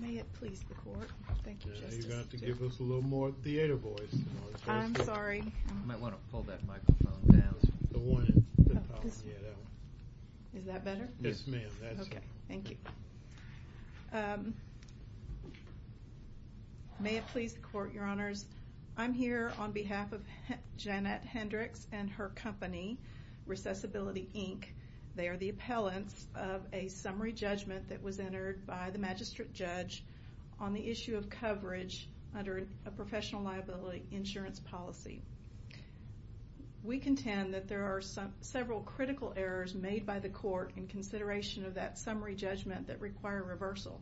May it please the court, your honors, I'm here on behalf of Jeanette Hendrex and her company, Recessibility Inc. They are the appellants of a summary judgment that was entered by the magistrate judge on the issue of coverage under a professional liability insurance policy. We contend that there are several critical errors made by the court in consideration of that summary judgment that require reversal.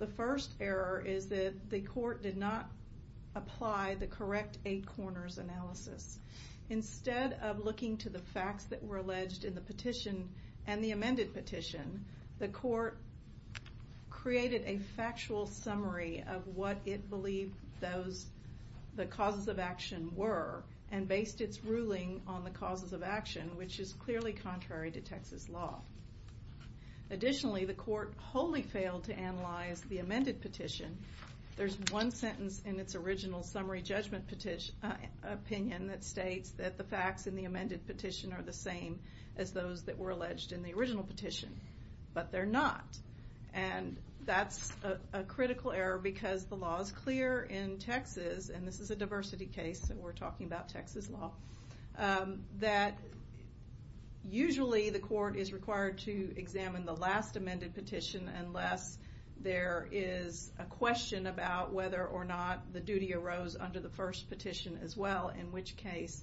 The first error is that the court did not apply the correct 8 corners analysis. Instead of looking to the facts that were alleged in the petition and the amended petition, the court created a factual summary of what it believed the causes of action were and based its ruling on the causes of action which is clearly contrary to Texas law. Additionally the court wholly failed to analyze the amended petition. There's one sentence in its original summary judgment opinion that states that the facts in the amended petition are the same as those that were alleged in the original petition, but they're not. And that's a critical error because the law is clear in Texas, and this is a diversity case so we're talking about Texas law, that usually the court is required to examine the last amended petition unless there is a question about whether or not the duty arose under the first petition as well, in which case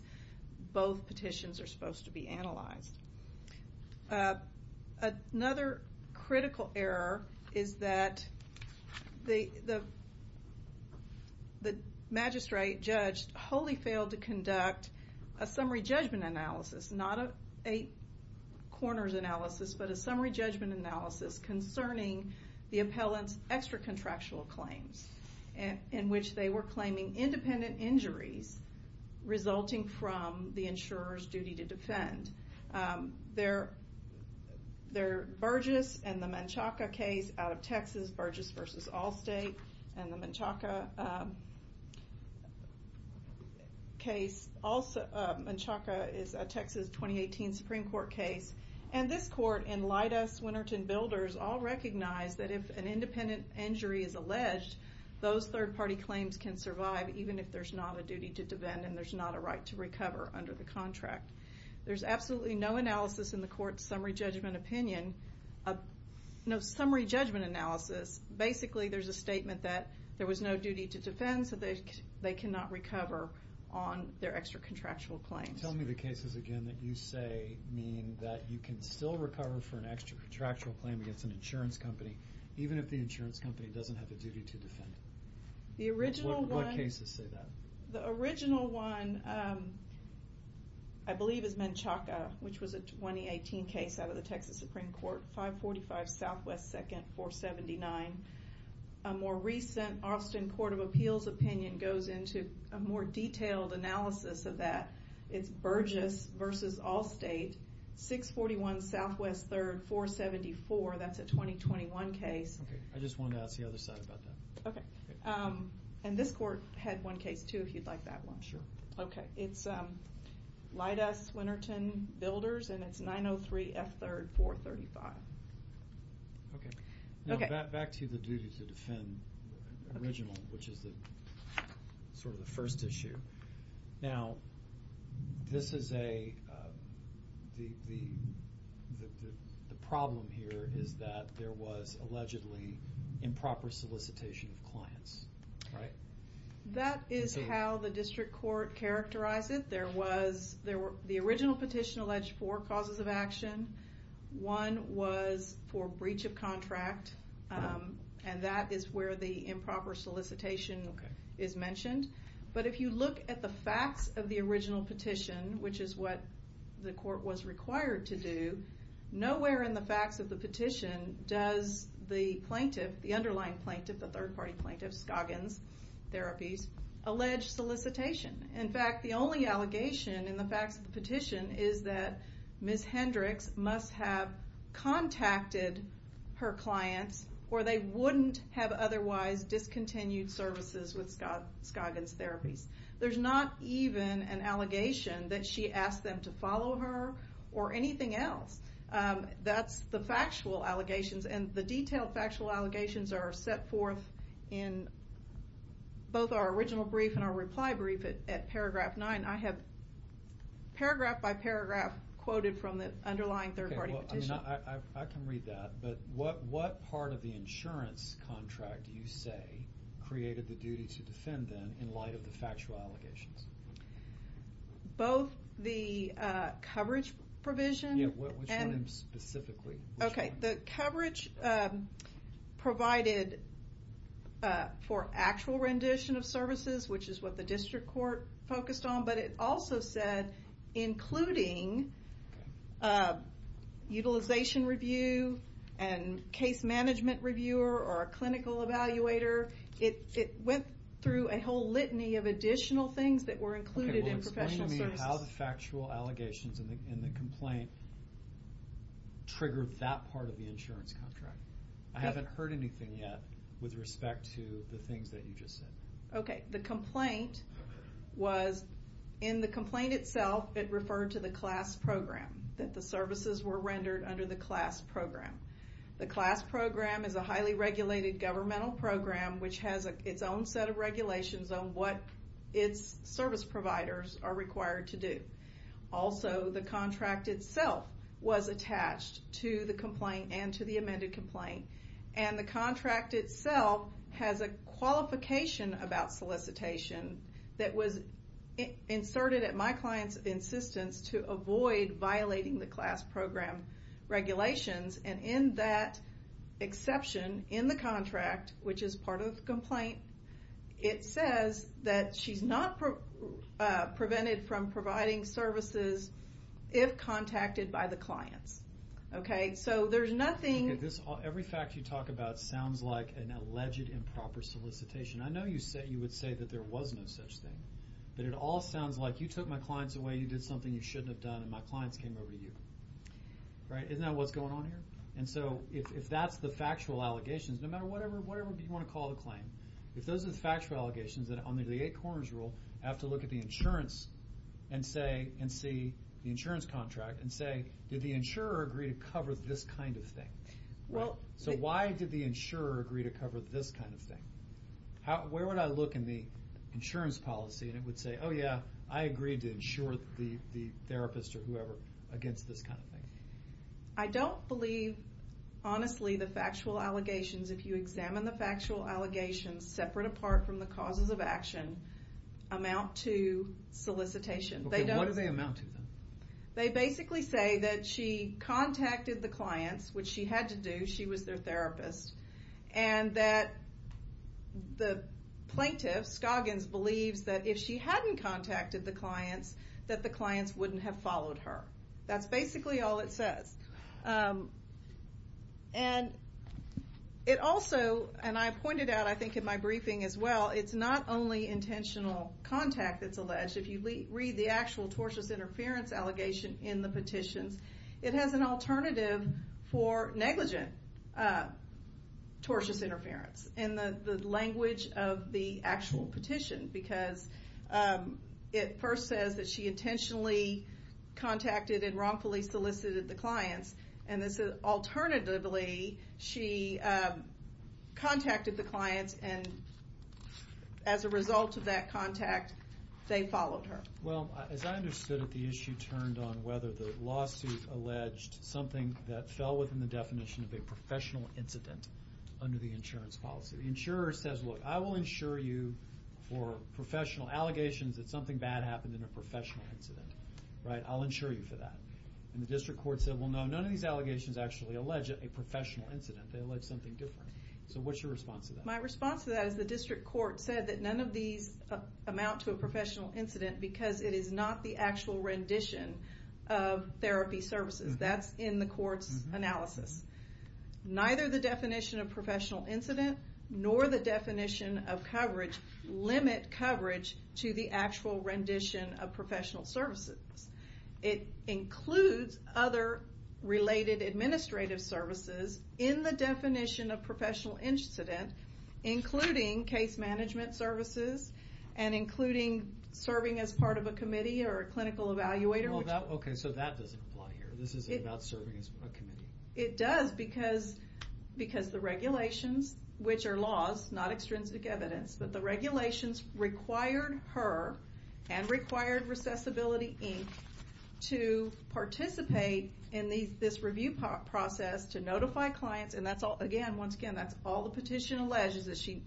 both petitions are supposed to be analyzed. Another critical error is that the magistrate judge wholly failed to conduct a summary judgment analysis, not an 8 corners analysis, but a summary judgment analysis concerning the appellant's extra contractual claims in which they were claiming independent injuries resulting from the insurer's duty to defend. Their Burgess and the Manchaca case out of Texas, Burgess v. Allstate, and the Manchaca case, Manchaca is a Texas 2018 Supreme Court case, and this court and Leidas, Winnerton, Builders all recognize that if an independent injury is alleged, those third party claims can survive even if there's not a duty to defend and there's not a right to recover under the contract. There's absolutely no analysis in the court's summary judgment opinion, no summary judgment analysis, basically there's a statement that there was no duty to defend so they cannot recover on their extra contractual claims. Tell me the cases again that you say mean that you can still recover for an extra contractual claim against an insurance company even if the insurance company doesn't have a duty to defend. The original one, I believe, is Manchaca, which was a 2018 case out of the Texas Supreme Court, 545 SW 2nd 479. A more recent Austin Court of Appeals opinion goes into a more detailed analysis of that. It's Burgess v. Allstate, 641 SW 3rd 474, that's a 2021 case. I just wanted to ask the other side about that. And this court had one case too if you'd like that one. It's Leidas, Winnerton, Builders and it's 903 F 3rd 435. Back to the duty to defend original, which is sort of the first issue. Now this is a The problem here is that there was allegedly improper solicitation of clients, right? That is how the district court characterized it. The original petition alleged four causes of action. One was for breach of contract and that is where the improper solicitation is mentioned. But if you look at the facts of the original petition, which is what the court was required to do, nowhere in the facts of the petition does the plaintiff, the underlying plaintiff, the third party plaintiff, Scoggins Therapies, allege solicitation. In fact, the only allegation in the facts of the petition is that Ms. Hendricks must have contacted her clients or they wouldn't have otherwise discontinued services with Scoggins Therapies. There's not even an allegation that she asked them to follow her or anything else. That's the factual allegations and the detailed factual allegations are set forth in both our original brief and our reply brief at paragraph nine. I have paragraph by paragraph quoted from the underlying third party petition. I can read that, but what part of the insurance contract do you say created the duty to defend them in light of the factual allegations? Both the coverage provision and... Yeah, which one specifically? Okay, the coverage provided for actual rendition of services, which is what the district court focused on, but it also said including utilization review and case management reviewer or a clinical evaluator. It went through a whole litany of additional things that were included in professional services. Okay, well explain to me how the factual allegations in the complaint triggered that part of the insurance contract. I haven't heard anything yet with respect to the things that you just said. Okay, the complaint was... In the complaint itself, it referred to the CLAS program, that the services were rendered under the CLAS program. The CLAS program is a highly regulated governmental program, which has its own set of regulations on what its service providers are required to do. Also, the contract itself was attached to the complaint and to the amended complaint. The contract itself has a qualification about solicitation that was inserted at my client's insistence to avoid violating the CLAS program regulations. In that exception, in the contract, which is part of the complaint, it says that she's not prevented from providing services if contacted by the clients. Okay, so there's nothing... Every fact you talk about sounds like an alleged improper solicitation. I know you would say that there was no such thing, but it all sounds like you took my clients away, you did something you shouldn't have done, and my clients came over to you. Right? Isn't that what's going on here? And so, if that's the factual allegations, no matter whatever you want to call the claim, if those are the factual allegations, then under the eight corners rule, I have to look at the insurance and see the insurance contract and say, did the insurer agree to cover this kind of thing? So, why did the insurer agree to cover this kind of thing? Where would I look in the insurance policy and it would say, oh yeah, I agreed to insure the therapist or whoever against this kind of thing? I don't believe, honestly, the factual allegations, if you examine the factual allegations separate apart from the causes of action, amount to solicitation. Okay, what do they amount to then? They basically say that she contacted the clients, which she had to do, she was their therapist, and that the plaintiff, Scoggins, believes that if she hadn't contacted the clients, that the clients wouldn't have followed her. That's basically all it says. And it also, and I pointed out, I think, in my briefing as well, it's not only intentional contact that's alleged. If you read the actual tortious interference allegation in the petitions, it has an alternative for negligent tortious interference in the language of the actual petition because it first says that she intentionally contacted and wrongfully solicited the clients and it says, alternatively, she contacted the clients and as a result of that contact, they followed her. Well, as I understood it, the issue turned on whether the lawsuit alleged something that fell within the definition of a professional incident under the insurance policy. The insurer says, look, I will insure you for professional allegations that something bad happened in a professional incident, right? I'll insure you for that. And the district court said, well, no, none of these allegations actually allege a professional incident. They allege something different. So what's your response to that? My response to that is the district court said that none of these amount to a professional incident because it is not the actual rendition of therapy services. That's in the court's analysis. Neither the definition of professional incident nor the definition of coverage limit coverage to the actual rendition of professional services. It includes other related administrative services in the definition of professional incident including case management services and including serving as part of a committee or a clinical evaluator. Okay, so that doesn't apply here. This isn't about serving as a committee. It does because the regulations, which are laws, not extrinsic evidence, but the regulations required her and required Recessibility, Inc. to participate in this review process to notify clients. And that's all, again, once again, that's all the petition alleges is that she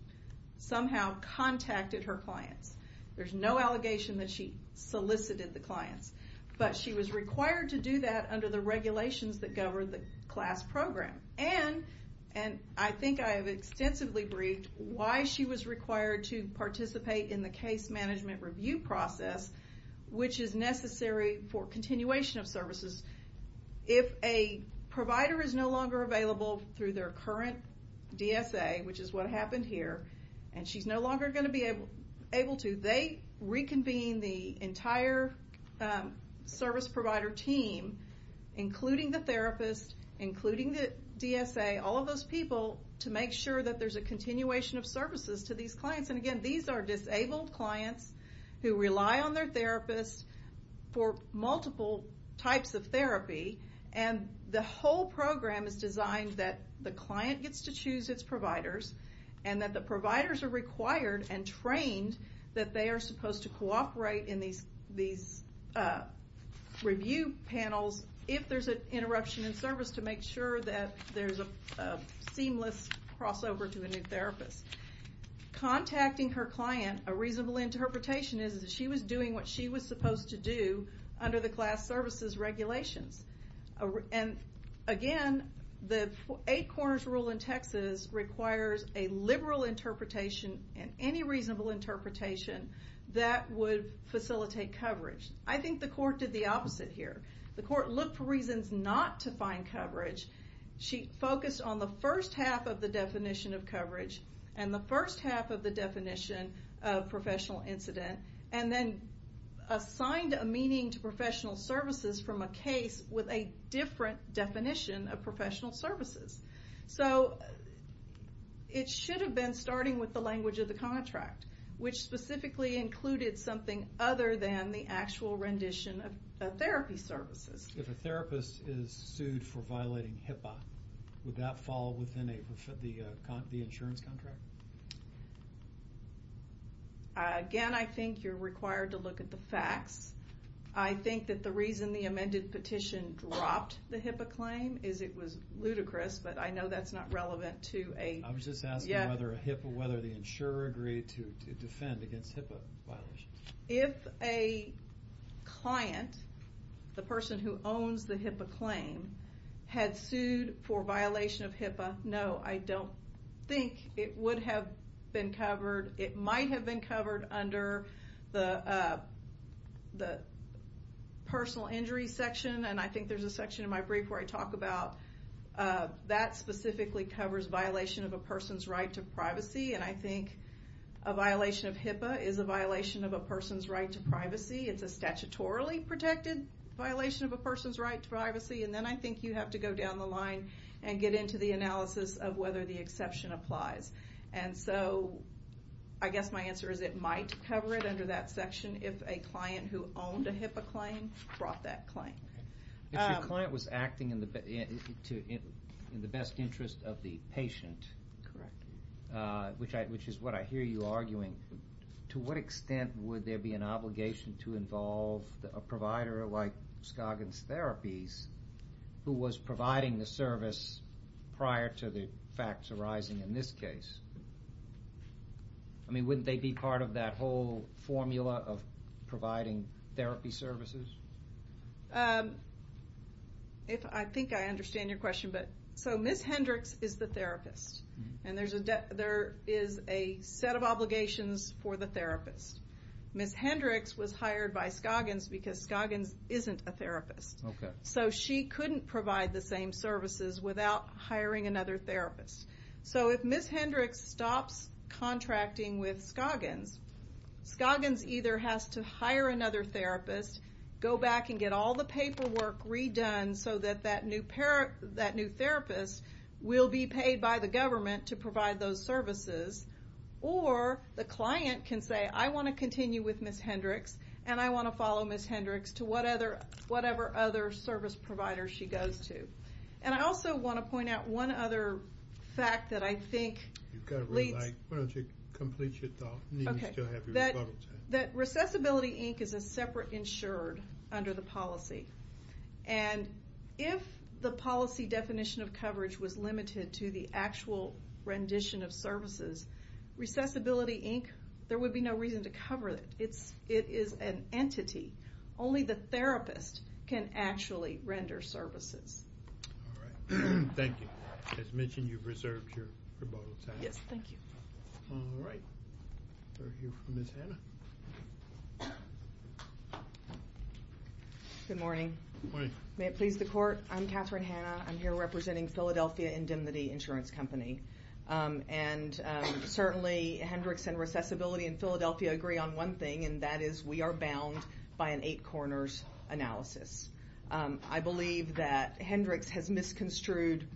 somehow contacted her clients. There's no allegation that she solicited the clients. But she was required to do that under the regulations that govern the CLAS program. And I think I have extensively briefed why she was required to participate in the case management review process, which is necessary for continuation of services. If a provider is no longer available through their current DSA, which is what happened here, and she's no longer going to be able to, they reconvene the entire service provider team, including the therapist, including the DSA, all of those people, to make sure that there's a continuation of services to these old clients who rely on their therapist for multiple types of therapy. And the whole program is designed that the client gets to choose its providers, and that the providers are required and trained that they are supposed to cooperate in these review panels if there's an interruption in service to make sure that there's a seamless crossover to a new therapist. Contacting her client, a reasonable interpretation is that she was doing what she was supposed to do under the CLAS services regulations. And again, the eight corners rule in Texas requires a liberal interpretation and any reasonable interpretation that would facilitate coverage. I think the court did the opposite here. The court looked for reasons not to use the definition of coverage and the first half of the definition of professional incident, and then assigned a meaning to professional services from a case with a different definition of professional services. So it should have been starting with the language of the contract, which specifically included something other than the actual rendition of therapy services. If a therapist is sued for violating HIPAA, would that fall within the insurance contract? Again, I think you're required to look at the facts. I think that the reason the amended petition dropped the HIPAA claim is it was ludicrous, but I know that's not relevant to a... I was just asking whether the insurer agreed to defend against HIPAA violations. If a client, the person who owns the HIPAA claim, had sued for violation of HIPAA, no, I don't think it would have been covered. It might have been covered under the personal injury section, and I think there's a section in my brief where I talk about that specifically covers violation of a person's right to privacy, and I think a violation of HIPAA is a violation of a person's right to privacy. It's a statutorily protected violation of a person's right to privacy, and then I think you have to go down the line and get into the analysis of whether the exception applies. And so I guess my answer is it might cover it under that section if a client who owned a HIPAA claim brought that claim. If your client was acting in the best interest of the patient, which is what I hear you arguing, to what extent would there be an obligation to involve a provider like Scoggins Therapies who was providing the service prior to the facts arising in this case? I mean, wouldn't they be part of that whole formula of providing therapy services? If I think I understand your question, but... So Ms. Hendricks is the therapist, and there is a set of obligations for the therapist. Ms. Hendricks was hired by Scoggins because Scoggins isn't a therapist. Okay. So she couldn't provide the same services without hiring another therapist. So if Ms. Hendricks stops contracting with Scoggins, Scoggins either has to hire another therapist, go back and get all the paperwork redone so that that new therapist will be paid by the services, or the client can say, I want to continue with Ms. Hendricks, and I want to follow Ms. Hendricks to whatever other service provider she goes to. And I also want to point out one other fact that I think... You've got to re-write. Why don't you complete your thought? Okay. You need to still have your rebuttal time. That Recessibility, Inc. is a separate insured under the policy. And if the policy definition of coverage was limited to the actual rendition of services, Recessibility, Inc., there would be no reason to cover it. It is an entity. Only the therapist can actually render services. All right. Thank you. As mentioned, you've reserved your rebuttal time. Yes. Thank you. All right. We'll hear from Ms. Hanna. Good morning. Good morning. May it please the court, I'm Katherine Hanna. I'm here representing Philadelphia Indemnity Insurance Company. And certainly Hendricks and Recessibility in Philadelphia agree on one thing, and that is we are bound by an eight corners analysis. I believe that Hendricks has misconstrued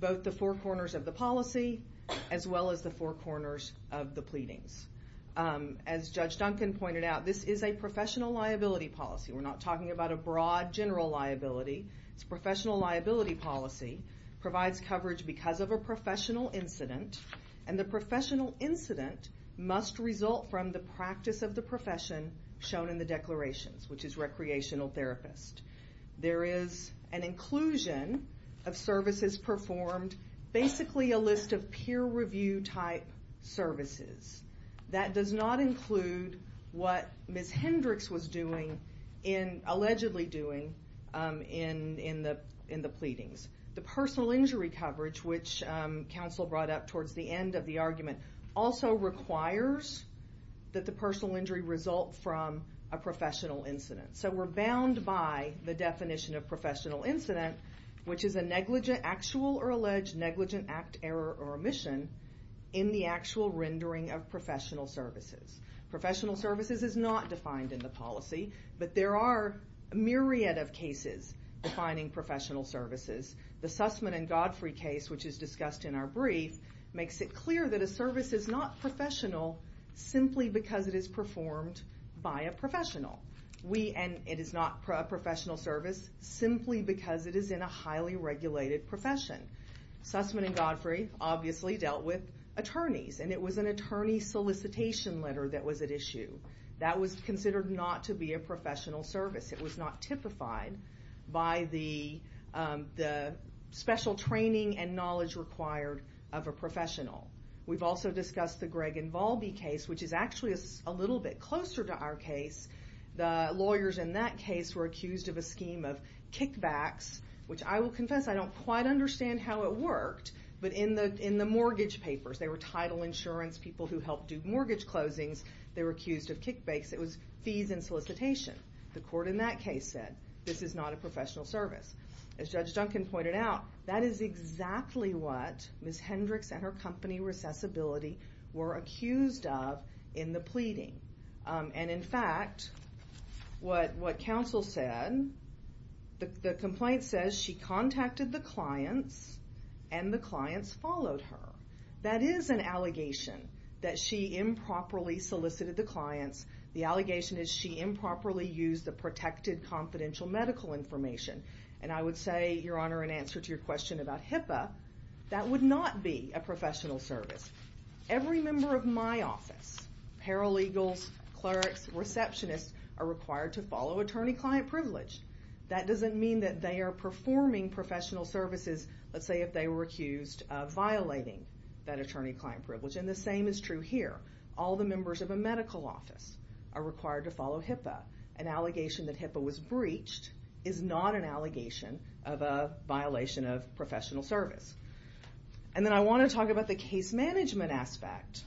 both the four corners of the policy, as well as the four corners of the pleadings. As Judge Duncan pointed out, this is a professional liability policy. We're not talking about a broad general liability. It's a professional liability policy. It provides coverage because of a professional incident. And the professional incident must result from the practice of the profession shown in the declarations, which is recreational therapist. There is an inclusion of services performed, basically a list of peer review type services. That does not include what Ms. Hendricks was doing, allegedly doing, in the pleadings. The personal injury coverage, which counsel brought up towards the end of the argument, also requires that the personal injury result from a professional incident. So we're bound by the definition of professional incident, which is a negligent actual or alleged negligent act, error, or omission in the actual rendering of professional services. Professional services is not defined in the policy, but there are a myriad of cases defining professional services. The Sussman and Godfrey case, which is discussed in our brief, makes it clear that a service is not professional simply because it is performed by a professional. And it is not a professional service simply because it is in a highly regulated profession. Sussman and Godfrey obviously dealt with attorneys, and it was an attorney solicitation letter that was at issue. That was considered not to be a professional service. It was not typified by the special training and knowledge required of a professional. We've also discussed the Gregg and Volbey case, which is actually a little bit closer to our case. The lawyers in that case were accused of a scheme of kickbacks, which I will confess I don't quite understand how it worked, but in the mortgage papers, they were title insurance people who helped do mortgage closings. They were accused of kickbacks. It was fees and solicitation. The court in that case said, this is not a professional service. As Judge Duncan pointed out, that is exactly what Ms. Hendricks and her company, Recessibility, were accused of in the pleading. And in fact, what counsel said, the complaint says she contacted the clients, and the clients followed her. That is an allegation that she improperly solicited the clients. The allegation is she improperly used the protected confidential medical information. And I would say, Your Honor, in answer to your question about HIPAA, that would not be a professional service. Every member of my office, paralegals, clerks, receptionists, are required to follow attorney-client privilege. That doesn't mean that they are performing professional services, let's say, if they were accused of violating that attorney-client privilege. And the same is true here. All the members of a medical office are required to follow HIPAA. An allegation that HIPAA was breached is not an allegation of a violation of professional service. And then I want to talk about the case management aspect.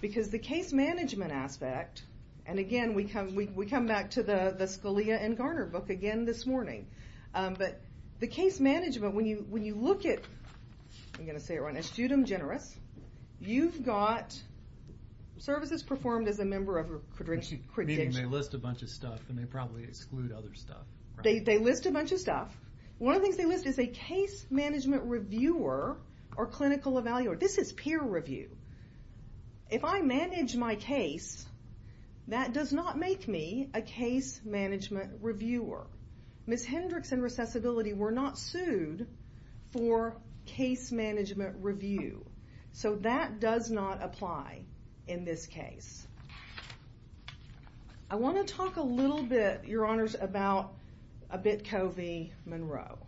Because the case management aspect, and again, we come back to the Scalia and Garner book again this morning. But the case management, when you look at, I'm going to say it right, Estudium Generis, you've got services performed as a member of a credition. Meaning they list a bunch of stuff, and they probably exclude other stuff. They list a bunch of stuff. One of the things they list is a case management reviewer or clinical evaluator. This is peer review. If I manage my case, that does not make me a case management reviewer. Ms. Hendricks and Recessibility were not sued for case management review. So that does not apply in this case. I want to talk a little bit, your honors, about Abit Covey-Monroe.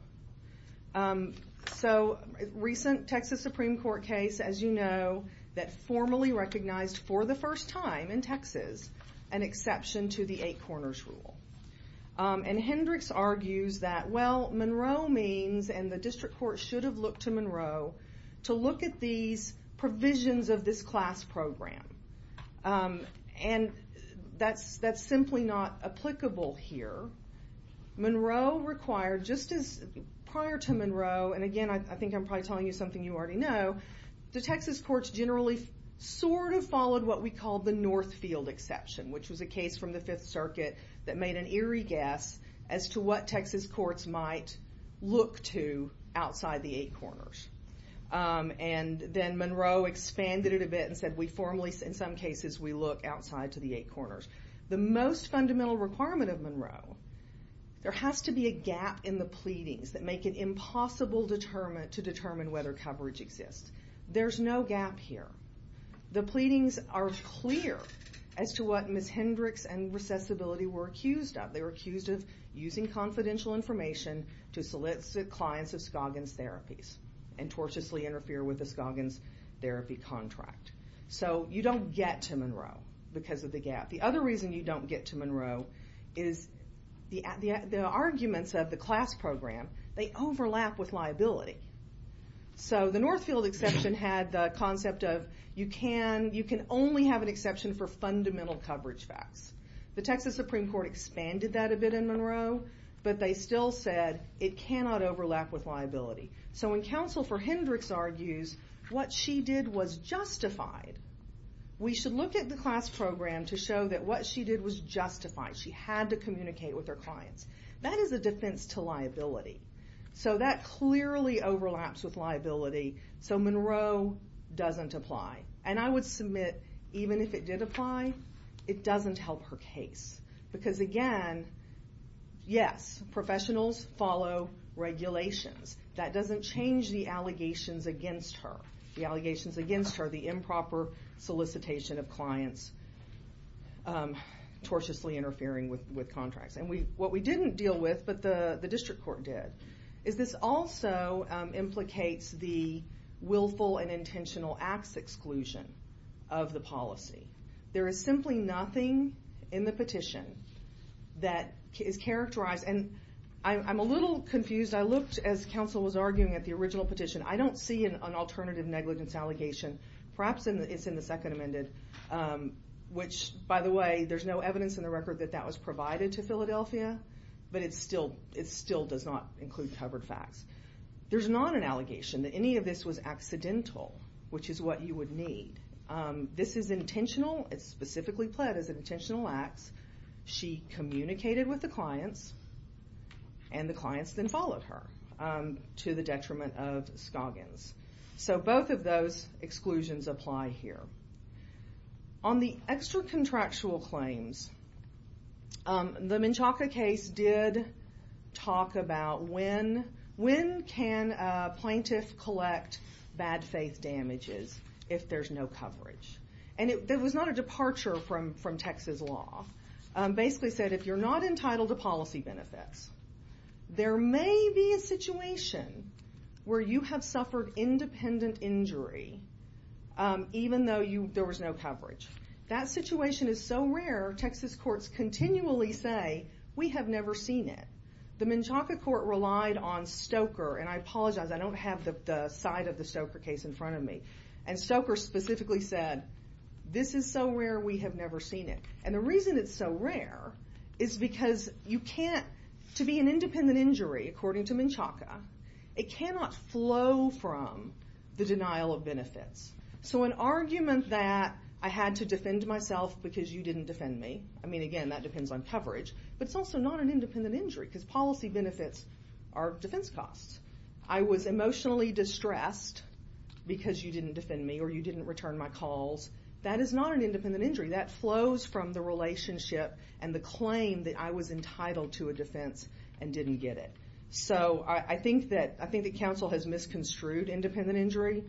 So, recent Texas Supreme Court case, as you know, that formally recognized for the first time in Texas an exception to the eight corners rule. And Hendricks argues that, well, Monroe means, and the district court should have looked to Monroe, to look at these provisions of this class program. And that's simply not applicable here. Monroe required, just as prior to Monroe, and again, I think I'm probably telling you something you already know, the Texas courts generally sort of followed what we call the Northfield exception, which was a case from the Fifth Circuit that made an eerie guess as to what Texas courts might look to outside the eight corners. And then Monroe expanded it a bit and said, we formally, in some cases, we look outside to the eight corners. The most fundamental requirement of Monroe, there has to be a gap in the pleadings that make it impossible to determine whether coverage exists. There's no gap here. The pleadings are clear as to what Ms. Hendricks and Recessibility were accused of. They were accused of using confidential information to solicit clients of Scoggins Therapies and tortiously interfere with the Scoggins Therapy contract. So, you don't get to Monroe because of the gap. The other reason you don't get to Monroe is the arguments of the class program, they overlap with liability. So, the Northfield exception had the concept of you can only have an exception for fundamental coverage facts. The Texas Supreme Court expanded that a bit in Monroe, but they still said it cannot overlap with liability. So, when counsel for Hendricks argues what she did was justified, we should look at the class program to show that what she did was justified. She had to communicate with her clients. That is a defense to liability. So, that clearly overlaps with liability. So, Monroe doesn't apply. And I would submit, even if it did apply, it doesn't help her case. Because again, yes, professionals follow regulations. That doesn't change the allegations against her. The allegations against her, the improper solicitation of clients tortiously interfering with contracts. And what we didn't deal with, but the district court did, is this also implicates the willful and intentional acts exclusion of the policy. There is simply nothing in the petition that is characterized and I'm a little confused. I looked as counsel was arguing at the original petition. I don't see an alternative negligence allegation. Perhaps it's in the second amended, which by the way, there's no evidence in the record that that was provided to Philadelphia. But it still does not include covered facts. There's not an allegation that any of this was accidental, which is what you would need. This is intentional. It's specifically pled as intentional acts. She communicated with the clients and the clients then followed her to the detriment of Scoggins. So, both of those exclusions apply here. On the extra contractual claims, the Menchaca case did talk about when can a plaintiff collect bad faith damages if there's no coverage. And it was not a departure from Texas law. Basically said, if you're not entitled to policy benefits, there may be a situation where you have suffered independent injury even though there was no coverage. That situation is so rare, Texas courts continually say, we have never seen it. The Menchaca court relied on Stoker, and I apologize, I don't have the side of the Stoker case in front of me. And Stoker specifically said, this is so rare, we have never seen it. And the reason it's so rare is because you can't, to be an independent injury according to Menchaca, it cannot flow from the denial of benefits. So an argument that I had to defend myself because you didn't defend me, I mean again, that depends on coverage, but it's also not an independent injury because policy benefits are defense costs. I was emotionally distressed because you didn't defend me or you didn't return my calls. That is not an independent injury. That flows from the relationship and the claim that I was entitled to a defense and didn't get it. So I think that counsel has misconstrued independent injury.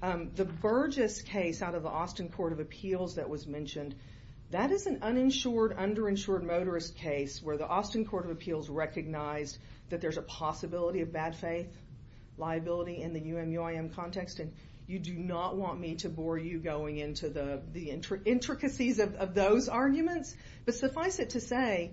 The Burgess case out of the Austin Court of Appeals that was mentioned, that is an uninsured, underinsured motorist case where the Austin Court of Appeals recognized that there's a possibility of bad faith, liability in the UMUIM context. You do not want me to bore you going into the intricacies of those arguments. But suffice it to say,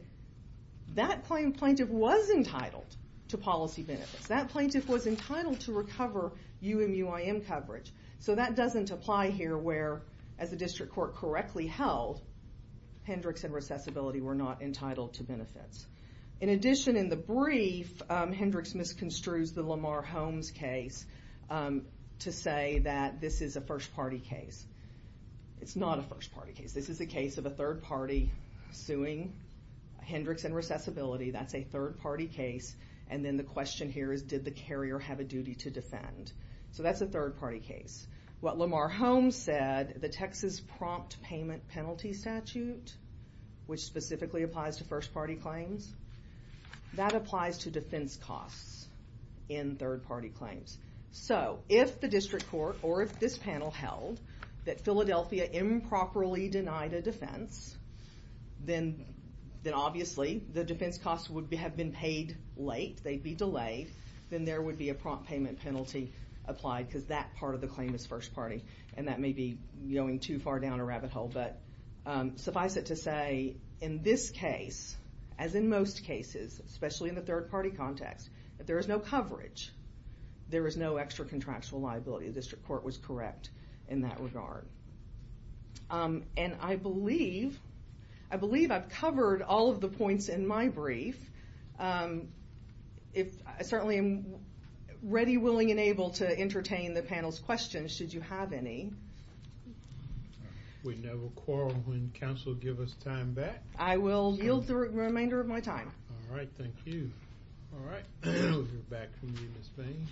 that plaintiff was entitled to policy benefits. That plaintiff was entitled to recover UMUIM coverage. So that doesn't apply here where, as the district court correctly held, Hendricks and Recessibility were not entitled to benefits. In addition, in the brief, Hendricks misconstrues the Lamar Holmes case to say that this is a first party case. It's not a first party case. This is a case of a third party suing Hendricks and Recessibility. That's a third party case. And then the question here is, did the carrier have a duty to defend? So that's a third party case. What Lamar Holmes said, the Texas Prompt Payment Penalty Statute, which specifically applies to first party claims, that applies to defense costs in third party claims. So if the district court or if this panel held that Philadelphia improperly denied a defense, then obviously the defense costs would have been paid late. They'd be applied because that part of the claim is first party. And that may be going too far down a rabbit hole. But suffice it to say, in this case, as in most cases, especially in the third party context, if there is no coverage, there is no extra contractual liability. The district court was correct in that regard. And I believe I've covered all of the points in my brief. I certainly am ready, willing, and able to entertain the panel's questions should you have any. We never quarrel when counsel give us time back. I will yield the remainder of my time. All right. Thank you. All right. We'll hear back from you, Ms. Bain.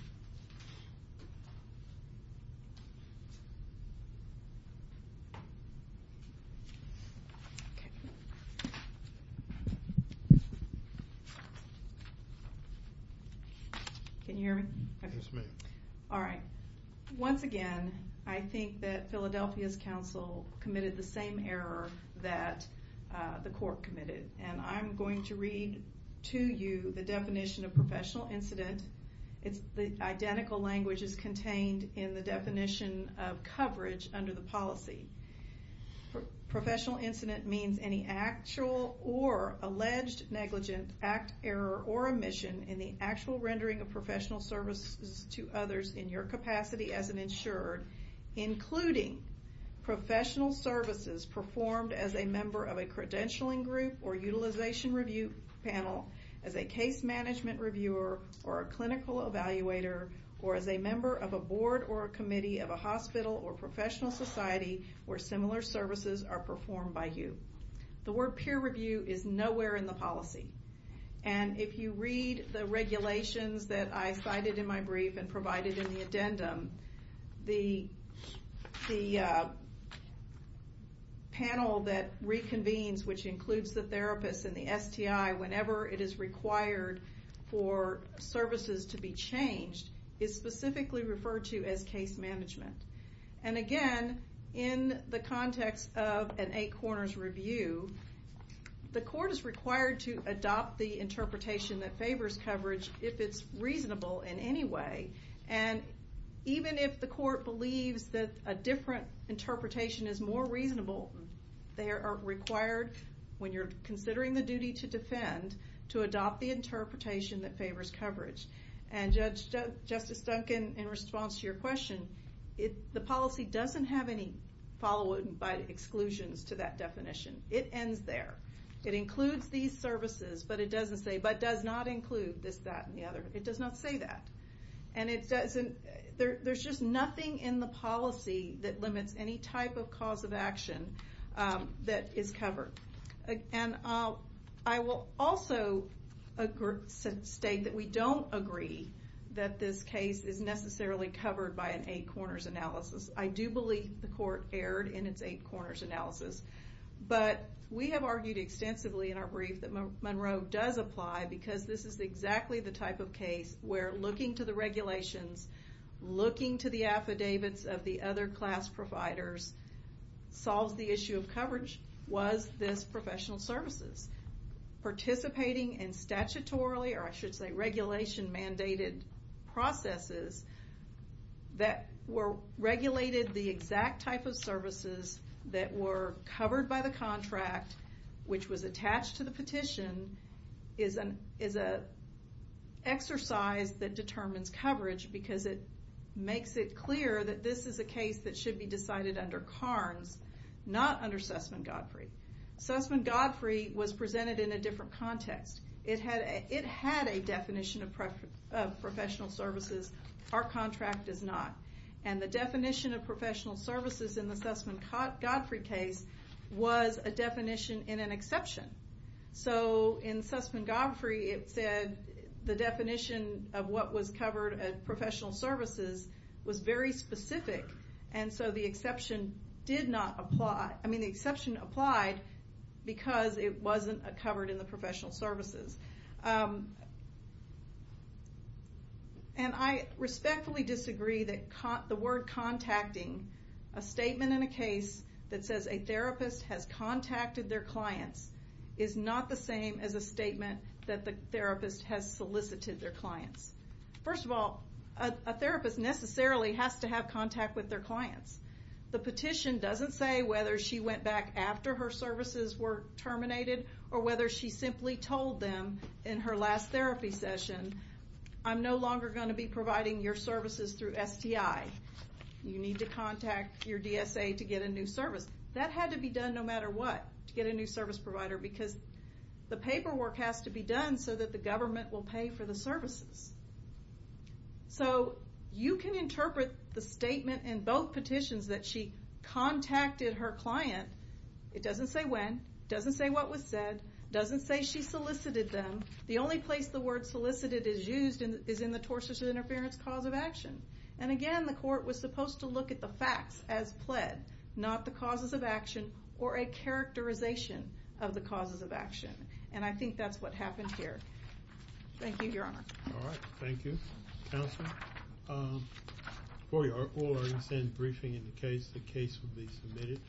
Can you hear me? Yes, ma'am. All right. Once again, I think that Philadelphia's counsel committed the same error that the court committed. And I'm going to read to you the definition of professional incident. It's the identical language as contained in the definition of coverage under the policy. Professional incident means any actual or alleged negligent act, error, or omission in the actual rendering of professional services to others in your capacity as an insurer, including professional services performed as a member of a credentialing group or utilization review panel, as a case management reviewer, or a clinical evaluator, or as a member of a board or a committee of a hospital or professional society where similar services are performed by you. The word peer review is nowhere in the policy. And if you read the regulations that I cited in my brief and provided in the addendum, the panel that reconvenes, which includes the therapist and the STI whenever it is required for services to be changed, is specifically referred to as case management. And again, in the context of an eight corners review, the court is required to adopt the interpretation that favors coverage if it's reasonable in any way. And even if the court believes that a different interpretation is more reasonable, they are required, when you're considering the duty to defend, to adopt the interpretation that favors coverage. And Justice Duncan, in response to your question, the policy doesn't have any follow-up by exclusions to that definition. It ends there. It includes these services, but it doesn't say, but does not include this, that, and the other. It does not say that. And there's just nothing in the policy that limits any type of cause of action that is covered. And I will also state that we don't agree that this case is necessarily covered by an eight corners analysis. I do believe the court erred in its eight corners analysis. But we have argued extensively in our brief that Monroe does apply because this is exactly the type of case where looking to the regulations, looking to the affidavits of the other class providers, solves the issue of coverage was this professional services. Participating in statutorily, or I should say regulation mandated processes, that were regulated the exact type of services that were covered by the contract, which was attached to the petition, is an exercise that determines coverage because it makes it clear that this is a case that should be decided under Carnes, not under Sussman-Godfrey. Sussman-Godfrey was presented in a different context. It had a definition of professional services. Our contract does not. And the definition of professional services in the Sussman-Godfrey case was a definition in an exception. So in Sussman-Godfrey, it said the definition of what was covered at Sussman-Godfrey. The exception applied because it wasn't covered in the professional services. And I respectfully disagree that the word contacting, a statement in a case that says a therapist has contacted their clients, is not the same as a statement that the therapist has solicited their clients. First of all, a therapist necessarily has to have contact with their clients. The petition doesn't say whether she went back after her services were terminated or whether she simply told them in her last therapy session, I'm no longer going to be providing your services through STI. You need to contact your DSA to get a new service. That had to be done no matter what, to get a new service provider, because the paperwork has to be done so that the government will pay for the services. So you can interpret the statement in both petitions that she contacted her client, it doesn't say when, it doesn't say what was said, it doesn't say she solicited them. The only place the word solicited is used is in the tortious interference cause of action. And again, the court was supposed to look at the facts as pled, not the causes of action or a characterization of the causes of action. And I think that's what happened here. Thank you, Your Honor. All right. Thank you, Counsel. We'll send a briefing in the case. The case will be submitted.